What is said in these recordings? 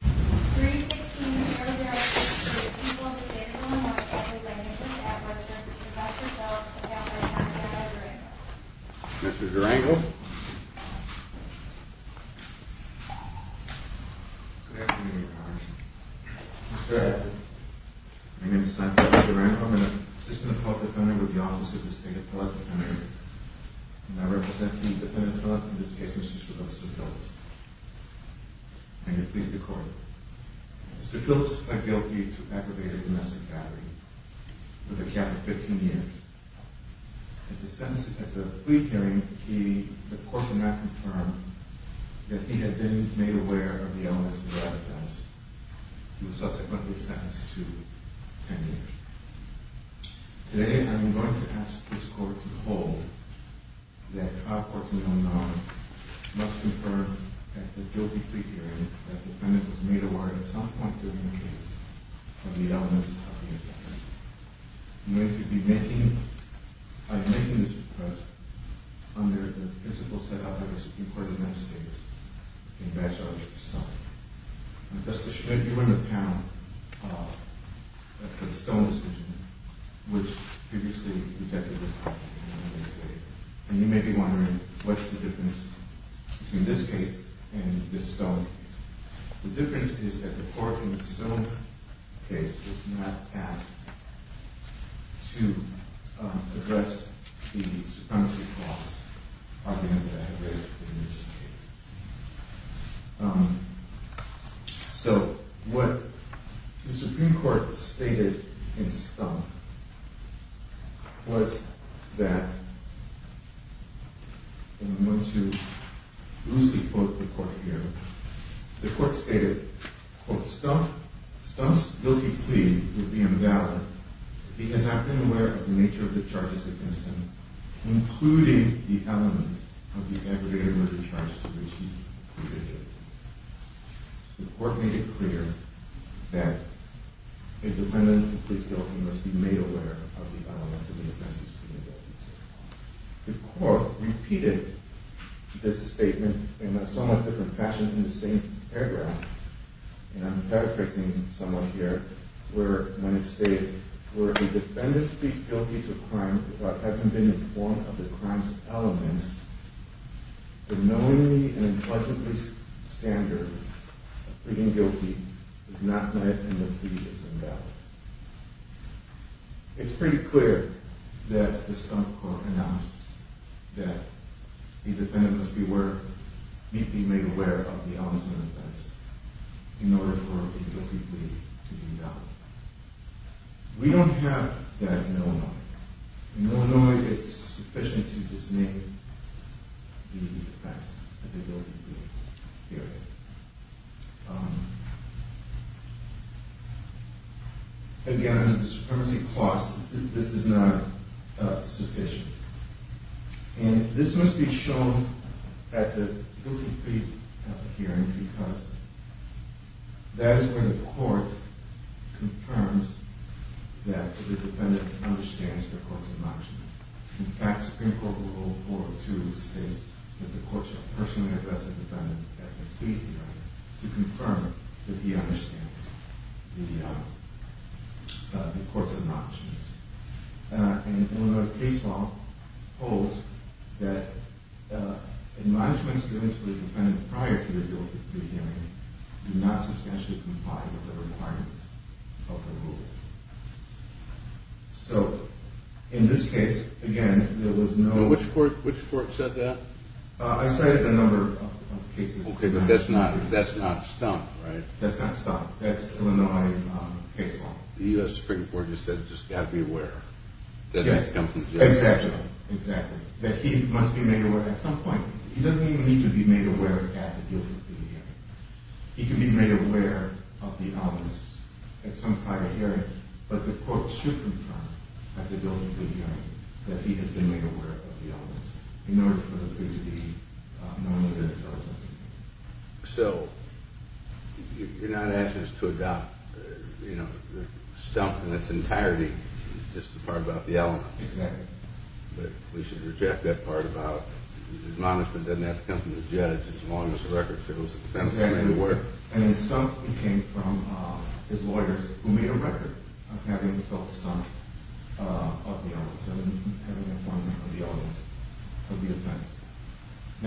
3-16 Mr. Durango Mr. Durango Good afternoon, Your Honor. Mr. Adler My name is Santiago Durango. I'm an assistant public defender with the Office of the State Appellate Defender. And I represent Chief Defendant Phillips in this case, Mr. Christopher Phillips. May it please the Court. Mr. Phillips pled guilty to aggravated domestic battery for the count of 15 years. At the plea hearing, the Court did not confirm that he had been made aware of the elements of the offense. Today, I'm going to ask this Court to hold that trial courts in the unknown must confirm at the guilty plea hearing that the defendant was made aware at some point during the case of the elements of the offense. I'm going to be making this request under the principle set out by the Supreme Court of the United States in Batchelor's Decision. Justice Schmidt, you were in the panel after the Stone decision, which previously detected this. And you may be wondering what's the difference between this case and the Stone case. The difference is that the court in the Stone case was not asked to address the supremacy clause argument that I have raised in this case. So what the Supreme Court stated in Stump was that, and I'm going to loosely quote the Court here, The Court stated, quote, And I'm paraphrasing somewhat here, where it states, It's pretty clear that the Stump Court announced that the defendant must be made aware of the elements of the offense in order for a guilty plea to be done. We don't have that in Illinois. In Illinois, it's sufficient to just make the offense a guilty plea. Again, the supremacy clause, this is not sufficient. And this must be shown at the guilty plea hearing because that is where the court confirms that the defendant understands the court's obnoxiousness. In fact, Supreme Court Rule 402 states that the court shall personally address the defendant at the plea hearing to confirm that he understands the court's obnoxiousness. And Illinois case law holds that admonishments given to the defendant prior to the guilty plea hearing do not substantially comply with the requirements of the rule. So, in this case, again, there was no... Which court said that? I cited a number of cases. Okay, but that's not Stump, right? That's not Stump. That's Illinois case law. The U.S. Supreme Court just said, just got to be aware. Yes, exactly. That he must be made aware. At some point, he doesn't even need to be made aware at the guilty plea hearing. He can be made aware of the elements at some prior hearing, but the court should confirm at the guilty plea hearing that he has been made aware of the elements in order for the plea to be known as a guilty plea. So, you're not asking us to adopt, you know, Stump in its entirety, just the part about the elements. Exactly. But we should reject that part about the admonishment doesn't have to come from the judge as long as the record shows that the defendant is made aware. And the Stump came from his lawyers, who made a record of having been told Stump of the elements and having informed them of the elements of the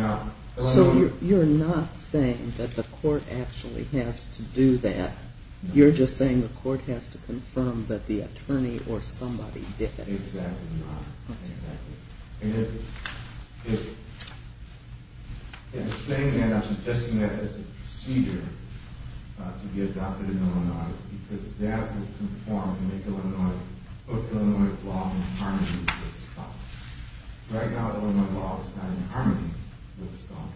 offense. So, you're not saying that the court actually has to do that. You're just saying the court has to confirm that the attorney or somebody did it. Exactly not. Exactly. And at the same end, I'm suggesting that as a procedure to be adopted in Illinois, because that would conform and make Illinois, put Illinois law in harmony with Stump. Right now, Illinois law is not in harmony with Stump.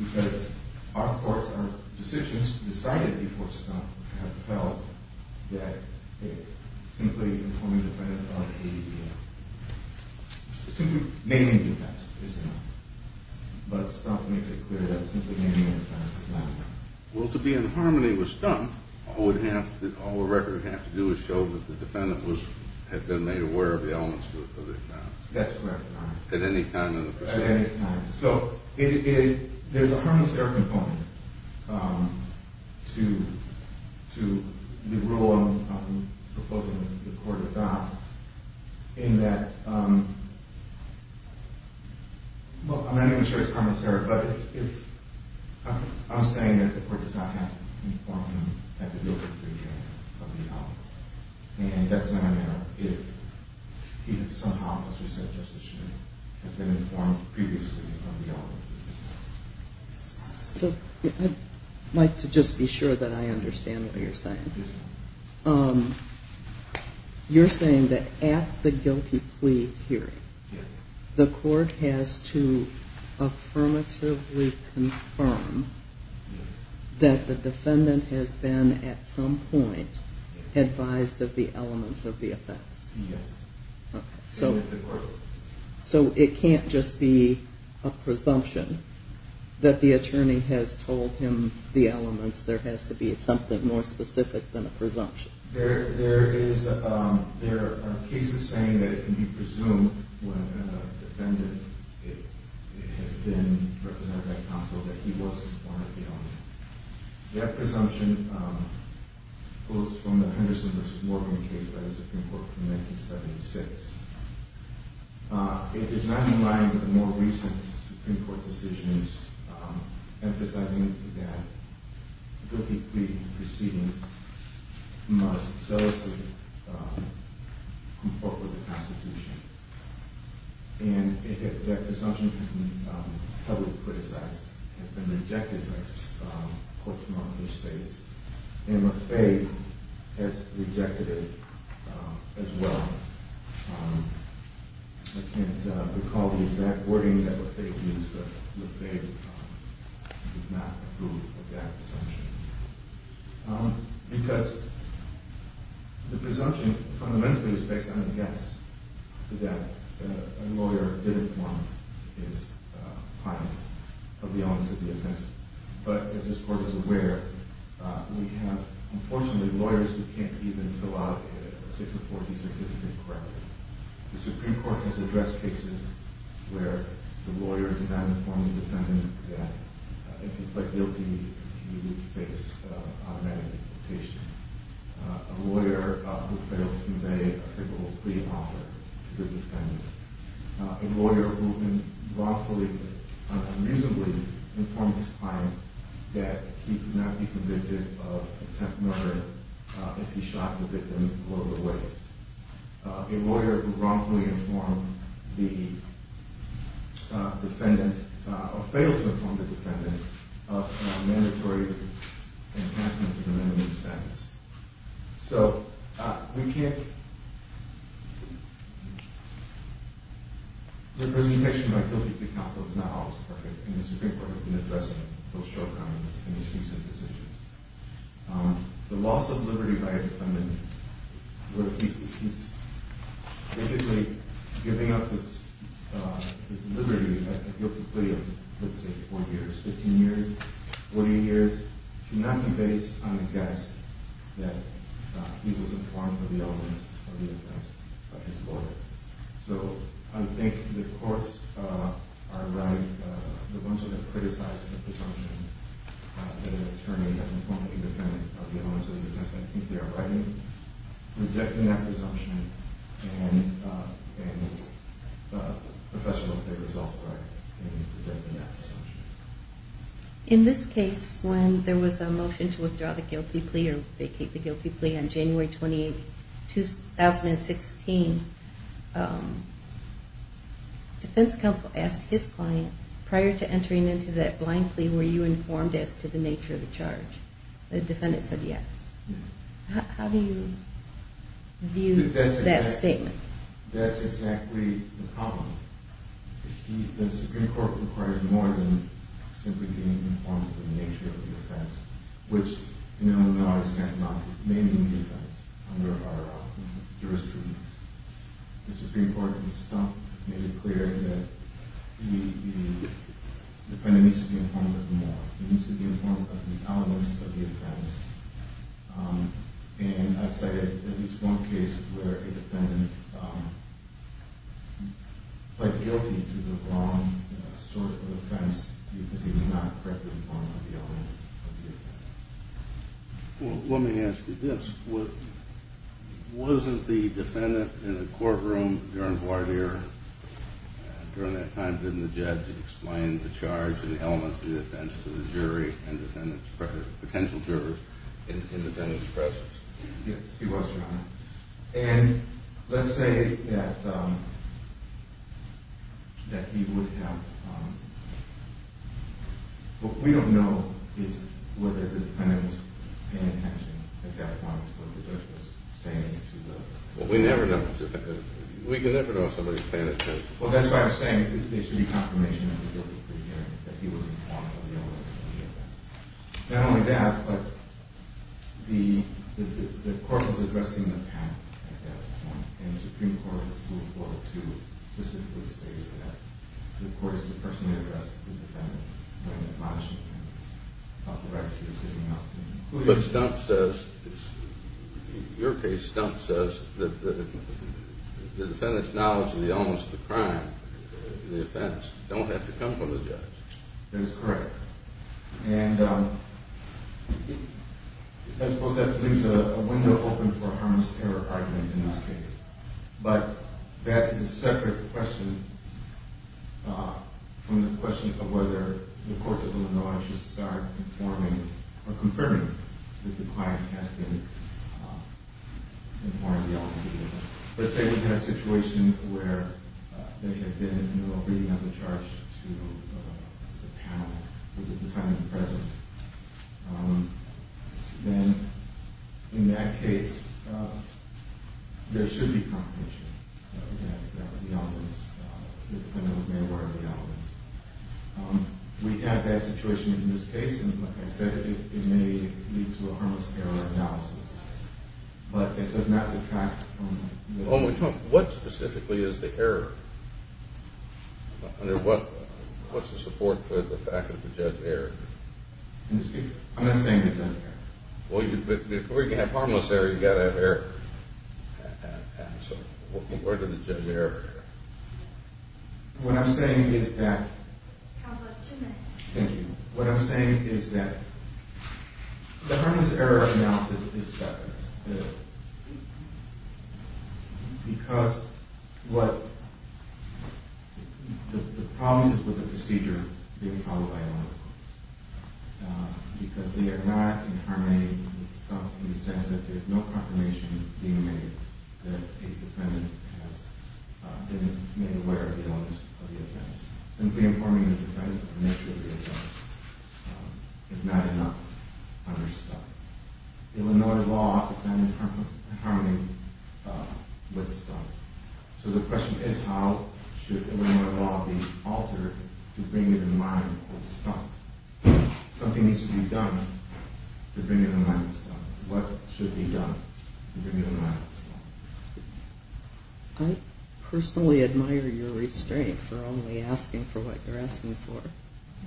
Because our courts, our decisions decided before Stump have felt that simply informing the defendant of ADDM, simply naming the offense is enough. But Stump makes it clear that simply naming the offense is not enough. Well, to be in harmony with Stump, all the record would have to do is show that the defendant had been made aware of the elements of the offense. That's correct. At any time in the procedure. At any time. So, there's a harmless error component to the rule I'm proposing that the court adopt. In that, well, I'm not even sure it's harmless error, but I'm saying that the court does not have to inform him at the delivery date of the offense. And that's not a matter of if, even somehow, as we said just this morning, has been informed previously of the elements of the offense. So, I'd like to just be sure that I understand what you're saying. Yes, ma'am. You're saying that at the guilty plea hearing, the court has to affirmatively confirm that the defendant has been, at some point, advised of the elements of the offense. Yes. So, it can't just be a presumption that the attorney has told him the elements. There has to be something more specific than a presumption. There are cases saying that it can be presumed when a defendant has been represented by counsel that he was informed of the elements. That presumption goes from the Henderson v. Morgan case by the Supreme Court from 1976. It is not in line with more recent Supreme Court decisions emphasizing that guilty plea proceedings must solicit a report with the Constitution. And that presumption has been heavily criticized, has been rejected by courts in all of these states. And Lafaye has rejected it as well. I can't recall the exact wording that Lafaye used, but Lafaye did not approve of that presumption. Because the presumption, fundamentally, is based on a guess that a lawyer didn't want his client of the elements of the offense. But, as this court is aware, we have, unfortunately, lawyers who can't even fill out a 640 certificate correctly. The Supreme Court has addressed cases where the lawyer did not inform the defendant that if he pled guilty, he would face automatic deportation. A lawyer who failed to convey a typical plea offer to the defendant. A lawyer who unlawfully, unreasonably, informed his client that he could not be convicted of attempt murder if he shot the victim below the waist. A lawyer who wrongfully informed the defendant, or failed to inform the defendant, of mandatory enhancement of the minimum sentence. So, representation by guilty plea counsel is not always perfect, and the Supreme Court has been addressing those shortcomings in these recent decisions. The loss of liberty by a defendant, where he's basically giving up his liberty at guilty plea of, let's say, 4 years, 15 years, 48 years, cannot be based on a guess that he was informed of the elements of the offense by his lawyer. So, I think the courts are right. The ones who have criticized the presumption, the attorney has informed the defendant of the elements of the offense. I think they are right in rejecting that presumption, and the professional favor is also right in rejecting that presumption. In this case, when there was a motion to withdraw the guilty plea or vacate the guilty plea on January 28, 2016, defense counsel asked his client, prior to entering into that blind plea, were you informed as to the nature of the charge? The defendant said yes. How do you view that statement? That's exactly the problem. The Supreme Court requires more than simply being informed of the nature of the offense, which, in Illinois' methodology, may be the case under our jurisprudence. The Supreme Court, in itself, made it clear that the defendant needs to be informed of more. He needs to be informed of the elements of the offense. And I've cited at least one case where a defendant pled guilty to the wrong sort of offense because he was not correctly informed of the elements of the offense. Well, let me ask you this. Wasn't the defendant in the courtroom during voir dire, during that time, didn't the judge explain the charge and the elements of the offense to the jury and potential jurors in the defendant's presence? Yes, he was, Your Honor. And let's say that he would have – what we don't know is whether the defendant was paying attention at that point, what the judge was saying to the jury. Well, we never know. We can never know if somebody's paying attention. Well, that's why I was saying there should be confirmation of the guilty plea hearing, that he was informed of the elements of the offense. Not only that, but the court was addressing the panel at that point, and the Supreme Court moved forward to specifically state that the court is to personally address the defendant when it monitors the defendant about the rights he was giving up. But Stumpf says – your case, Stumpf says that the defendant's knowledge of the elements of the crime, the offense, don't have to come from the judge. That is correct. And I suppose that leaves a window open for a harmless error argument in this case. But that is a separate question from the question of whether the courts of Illinois should start informing or confirming that the client has been informed of the elements of the offense. Let's say we have a situation where they have been, you know, reading on the charge to the panel at the time and the present. Then, in that case, there should be confirmation that the elements – the defendant was aware of the elements. We have that situation in this case, and like I said, it may lead to a harmless error analysis. But it does not detract from – When we talk – what specifically is the error? Under what – what's the support for the fact that the judge erred? Excuse me? I'm not saying the judge erred. Well, before you can have harmless error, you've got to have error. So where did the judge err? What I'm saying is that – How about two minutes? Thank you. What I'm saying is that the harmless error analysis is separate. Because what – the problem is with the procedure being followed by Illinois courts. Because they are not in harmony with stuff in the sense that there's no confirmation being made that a defendant has been made aware of the elements of the offense. Simply informing the defendant of nature of the offense is not enough on their side. Illinois law is not in harmony with stuff. So the question is, how should Illinois law be altered to bring it in line with stuff? Something needs to be done to bring it in line with stuff. What should be done to bring it in line with stuff? I personally admire your restraint for only asking for what you're asking for.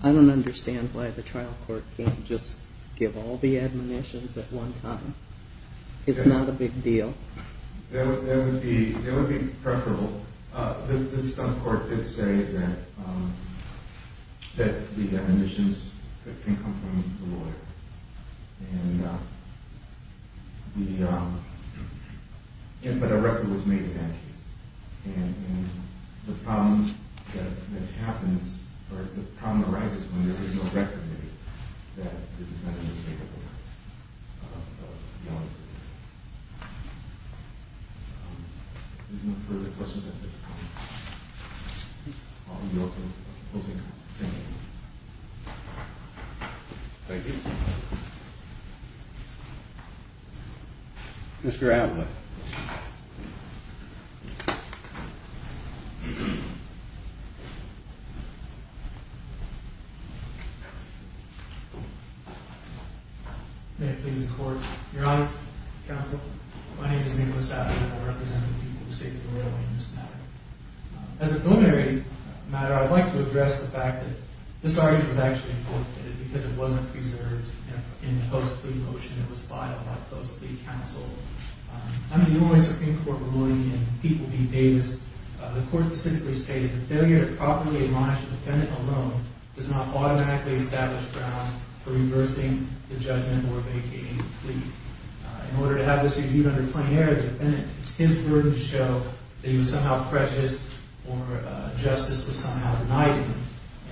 I don't understand why the trial court can't just give all the admonitions at one time. It's not a big deal. That would be preferable. The stump court did say that the admonitions can come from the lawyer. And the – but a record was made in that case. And the problem that happens – or the problem arises when there is no record made that the defendant was made aware of the elements of the offense. If there's no further questions, I think I'll be open to closing. Thank you. Thank you. Mr. Adler. May it please the Court. Your Honor, counsel, my name is Nicholas Adler, and I represent the people who say that we're going to win this matter. As a preliminary matter, I'd like to address the fact that this argument was actually forfeited because it wasn't preserved in the post-plea motion. It was filed by post-plea counsel. I'm the only Supreme Court nominee in People v. Davis. The Court specifically stated that failure to properly admonish a defendant alone does not automatically establish grounds for reversing the judgment or vacating the plea. In order to have this argued under plenary, the defendant gets his word to show that he was somehow precious or justice was somehow denied him.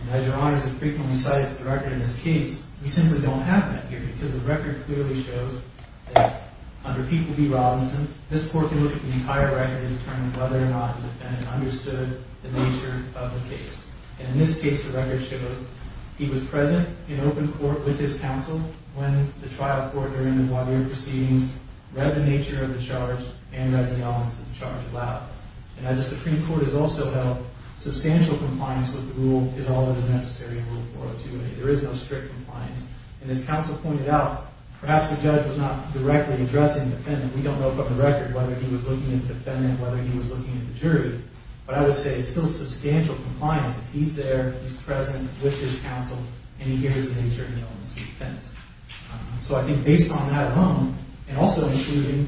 And as Your Honor has frequently cited to the record in this case, we simply don't have that here because the record clearly shows that under People v. Robinson, this Court can look at the entire record and determine whether or not the defendant understood the nature of the case. And in this case, the record shows he was present in open court with his counsel when the trial court during the voir dire proceedings read the nature of the charge and read the elements of the charge aloud. And as the Supreme Court has also held, substantial compliance with the rule is always necessary in Rule 402a. There is no strict compliance. And as counsel pointed out, perhaps the judge was not directly addressing the defendant. We don't know from the record whether he was looking at the defendant, whether he was looking at the jury. But I would say it's still substantial compliance that he's there, he's present with his counsel, and he hears the nature of the elements of the defense. So I think based on that alone, and also including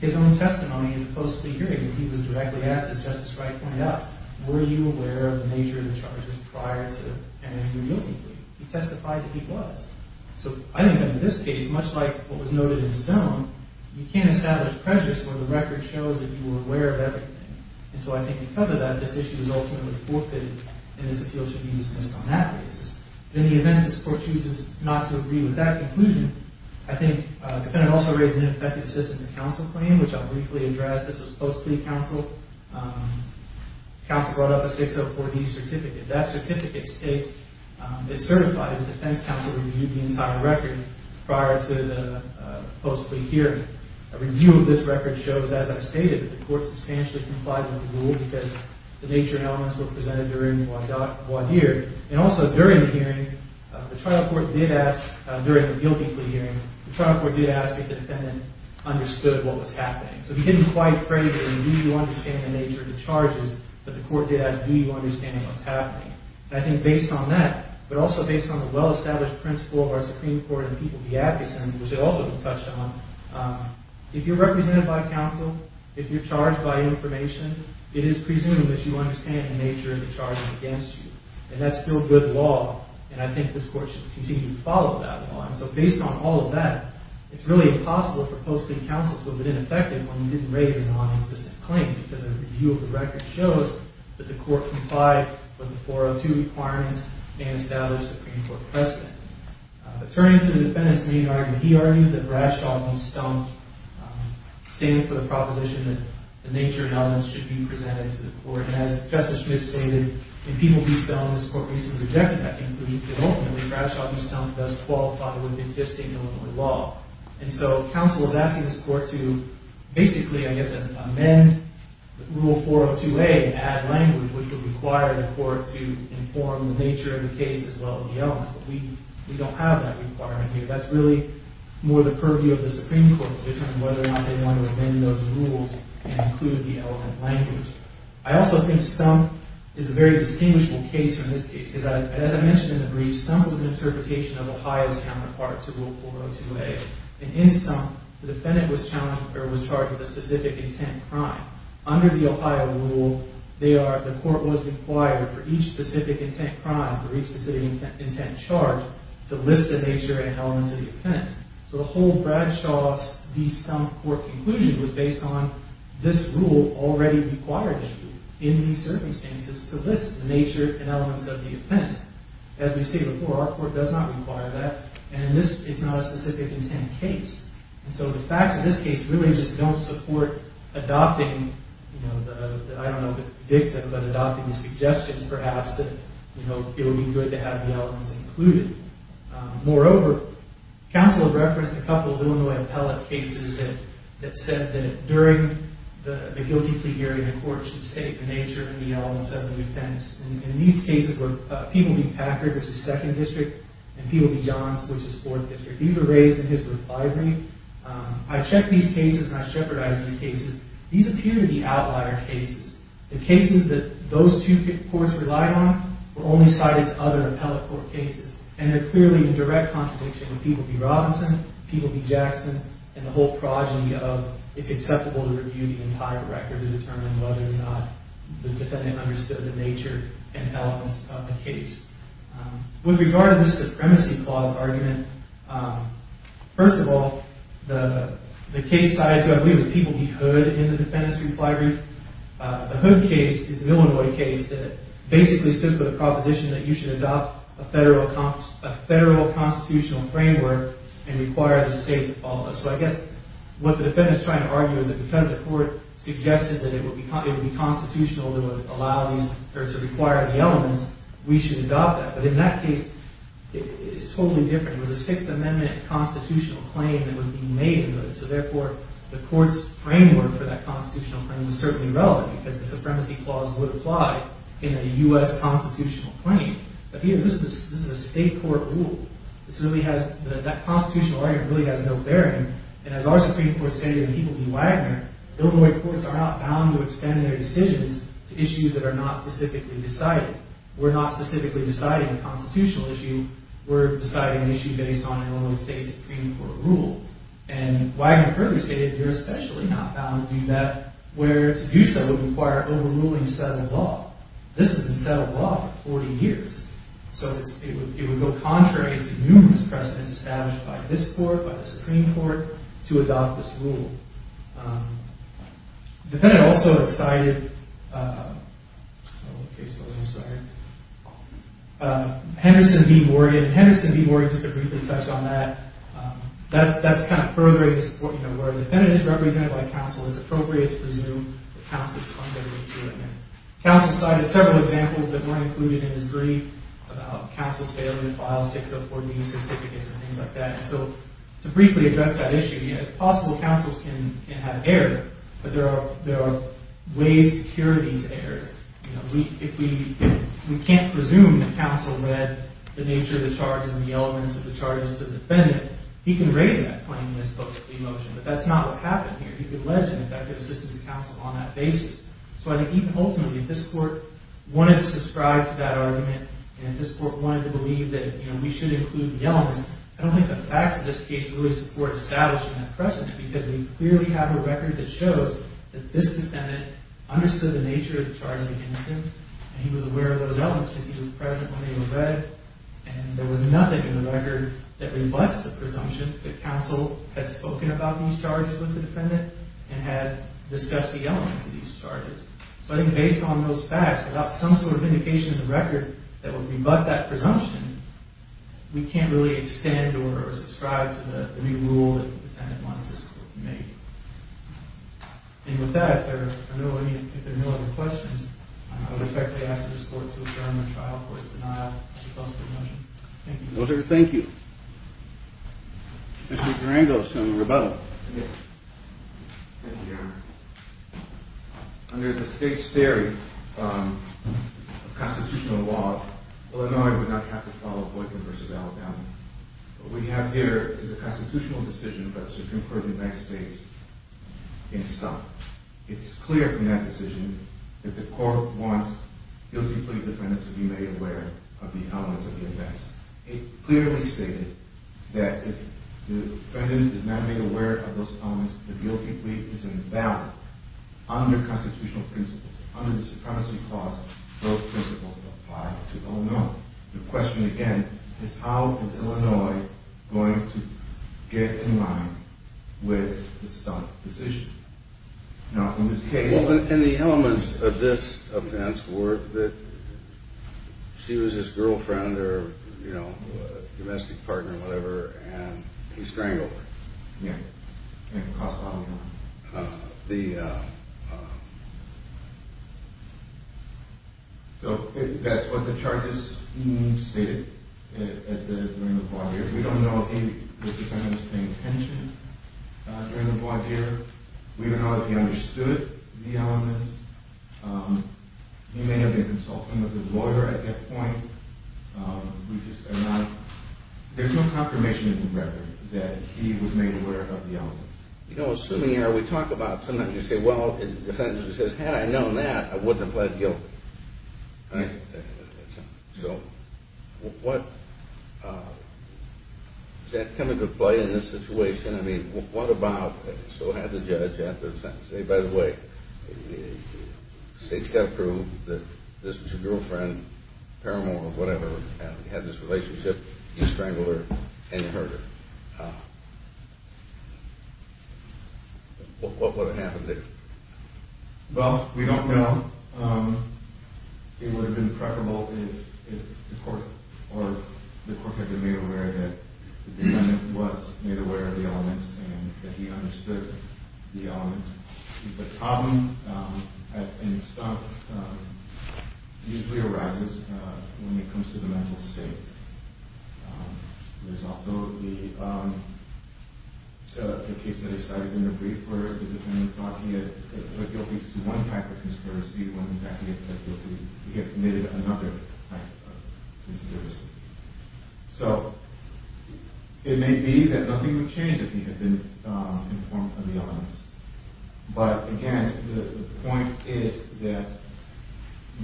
his own testimony in the post-plea hearing, he was directly asked, as Justice Wright pointed out, were you aware of the nature of the charges prior to an injury guilty plea? He testified that he was. So I think that in this case, much like what was noted in Stone, you can't establish prejudice where the record shows that you were aware of everything. And so I think because of that, this issue is ultimately forfeited, and this appeal should be dismissed on that basis. In the event this Court chooses not to agree with that conclusion, I think the defendant also raised an ineffective assistance in counsel claim, which I'll briefly address. This was post-plea counsel. Counsel brought up a 604D certificate. That certificate states it's certified. As a defense counsel, we reviewed the entire record prior to the post-plea hearing. A review of this record shows, as I've stated, that the Court substantially complied with the rule because the nature and elements were presented during the law hearing. And also during the hearing, the trial court did ask, during the guilty plea hearing, the trial court did ask if the defendant understood what was happening. So we didn't quite phrase it in the do you understand the nature of the charges, but the court did ask do you understand what's happening. And I think based on that, but also based on the well-established principle of our Supreme Court and the people of the Adkison, which I also touched on, if you're represented by counsel, if you're charged by information, it is presumed that you understand the nature of the charges against you. And that's still good law, and I think this Court should continue to follow that law. And so based on all of that, it's really impossible for post-plea counsel to have been ineffective when you didn't raise a non-existent claim because a review of the record shows that the Court complied with the 402 requirements and established Supreme Court precedent. Turning to the defendant's main argument, he argues that Bradshaw v. Stump stands for the proposition that the nature and elements should be presented to the Court. And as Justice Smith stated, in Peeble v. Stump, this Court recently rejected that conclusion because ultimately Bradshaw v. Stump does qualify with existing Illinois law. And so counsel is asking this Court to basically, I guess, amend Rule 402A and add language, which would require the Court to inform the nature of the case as well as the elements. But we don't have that requirement here. That's really more the purview of the Supreme Court to determine whether or not they want to amend those rules and include the element language. I also think Stump is a very distinguishable case from this case because, as I mentioned in the brief, Stump was an interpretation of Ohio's counterpart to Rule 402A. And in Stump, the defendant was charged with a specific intent crime. Under the Ohio rule, the Court was required for each specific intent crime, for each specific intent charge, to list the nature and elements of the offense. So the whole Bradshaw v. Stump Court conclusion was based on this rule already required you, in these circumstances, to list the nature and elements of the offense. As we've stated before, our Court does not require that, and it's not a specific intent case. So the facts of this case really just don't support adopting, I don't know if it's predictive, but adopting the suggestions, perhaps, that it would be good to have the elements included. Moreover, counsel referenced a couple of Illinois appellate cases that said that during the guilty plea hearing, the Court should state the nature and the elements of the offense. And in these cases where people v. Packard, which is 2nd District, and people v. Johns, which is 4th District, these were raised in his reply brief, I checked these cases and I shepherdized these cases. These appear to be outlier cases. The cases that those two courts relied on were only cited to other appellate court cases. And they're clearly in direct contradiction with people v. Robinson, people v. Jackson, and the whole progeny of it's acceptable to review the entire record to determine whether or not the defendant understood the nature and elements of the case. With regard to the Supremacy Clause argument, first of all, the case cited to, I believe, was people v. Hood in the defendant's reply brief. The Hood case is an Illinois case that basically stood for the proposition that you should adopt a federal constitutional framework and require the state to follow it. So I guess what the defendant's trying to argue is that because the court suggested that it would be constitutional to require the elements, we should adopt that. But in that case, it's totally different. It was a Sixth Amendment constitutional claim that was being made. So therefore, the court's framework for that constitutional claim was certainly relevant because the Supremacy Clause would apply in a U.S. constitutional claim. But this is a state court rule. That constitutional argument really has no bearing. And as our Supreme Court stated in people v. Wagner, Illinois courts are not bound to extend their decisions to issues that are not specifically decided. We're not specifically deciding a constitutional issue. We're deciding an issue based on an Illinois State Supreme Court rule. And Wagner clearly stated you're especially not bound to do that where to do so would require overruling a set of law. This has been a set of law for 40 years. So it would go contrary to numerous precedents established by this court, by the Supreme Court, to adopt this rule. The defendant also had cited Henderson v. Morgan. Henderson v. Morgan, just to briefly touch on that, that's kind of furthering the support, you know, where the defendant is represented by counsel. It's appropriate to presume that counsel is funded to admit. Counsel cited several examples that weren't included in his brief about counsel's failure to file 604B certificates and things like that. So to briefly address that issue, you know, it's possible counsels can have error, but there are ways to cure these errors. You know, if we can't presume that counsel read the nature of the charges and the elements of the charges to the defendant, he can raise that claim in his post-plea motion. But that's not what happened here. He could allege an effective assistance to counsel on that basis. So I think even ultimately if this court wanted to subscribe to that argument and if this court wanted to believe that, you know, we should include the elements, I don't think the facts of this case really support establishing that precedent because we clearly have a record that shows that this defendant understood the nature of the charges against him and he was aware of those elements because he was present when they were read and there was nothing in the record that rebuts the presumption that counsel had spoken about these charges with the defendant and had discussed the elements of these charges. So I think based on those facts, without some sort of indication in the record that would rebut that presumption, we can't really extend or subscribe to the new rule that the defendant wants this court to make. And with that, if there are no other questions, I would expect to ask this court to adjourn the trial for its denial of the post-plea motion. Thank you. Those are your thank you. Yes. Thank you, Your Honor. Under the state's theory of constitutional law, Illinois would not have to follow Boykin v. Alabama. What we have here is a constitutional decision by the Supreme Court of the United States in stock. It's clear from that decision that the court wants guilty plea defendants to be made aware of the elements of the offense. It clearly stated that if the defendant is not made aware of those elements, the guilty plea is invalid. Under constitutional principles, under the Supremacy Clause, those principles apply to Illinois. The question, again, is how is Illinois going to get in line with the stock decision? Now, in this case... Well, and the elements of this offense were that she was his girlfriend or, you know, domestic partner or whatever, and he strangled her. Yes. And caused a lot of harm. So that's what the charges stated during the court here. We don't know if he was the defendant's intention during the court here. We don't know if he understood the elements. He may have been consulting with his lawyer at that point. We just are not... There's no confirmation of the record that he was made aware of the elements. You know, assuming we talk about something, you say, well, the defendant says, had I known that, I wouldn't have pled guilty. Right? So what... Does that come into play in this situation? So we'll have the judge after the sentence. Say, by the way, the state's got to prove that this was your girlfriend, paramour or whatever, and you had this relationship, you strangled her and you hurt her. What would have happened there? Well, we don't know. It would have been preferable if the court had been made aware that the defendant was made aware of the elements and that he understood the elements. The problem, as in stuff, usually arises when it comes to the mental state. There's also the case that I cited in the brief where the defendant thought he had pled guilty to one type of conspiracy when in fact he had pled guilty to another type of conspiracy. So it may be that nothing would change if he had been informed of the elements. But again, the point is that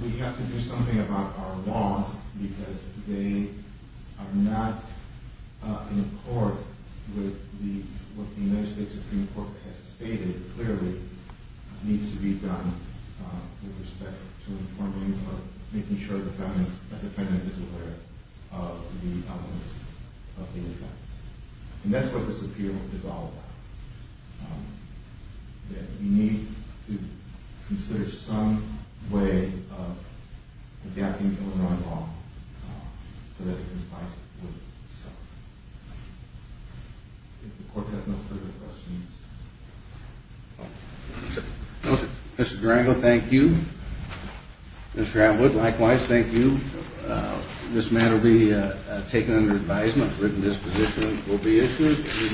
we have to do something about our laws because they are not in accord with what the United States Supreme Court has stated clearly needs to be done with respect to informing or making sure that the defendant is aware of the elements of the offense. And that's what this appeal is all about, that we need to consider some way of adapting Illinois law so that it complies with the statute. If the court has no further questions. Mr. Durango, thank you. Mr. Atwood, likewise, thank you. This matter will be taken under advisement. Written disposition will be issued.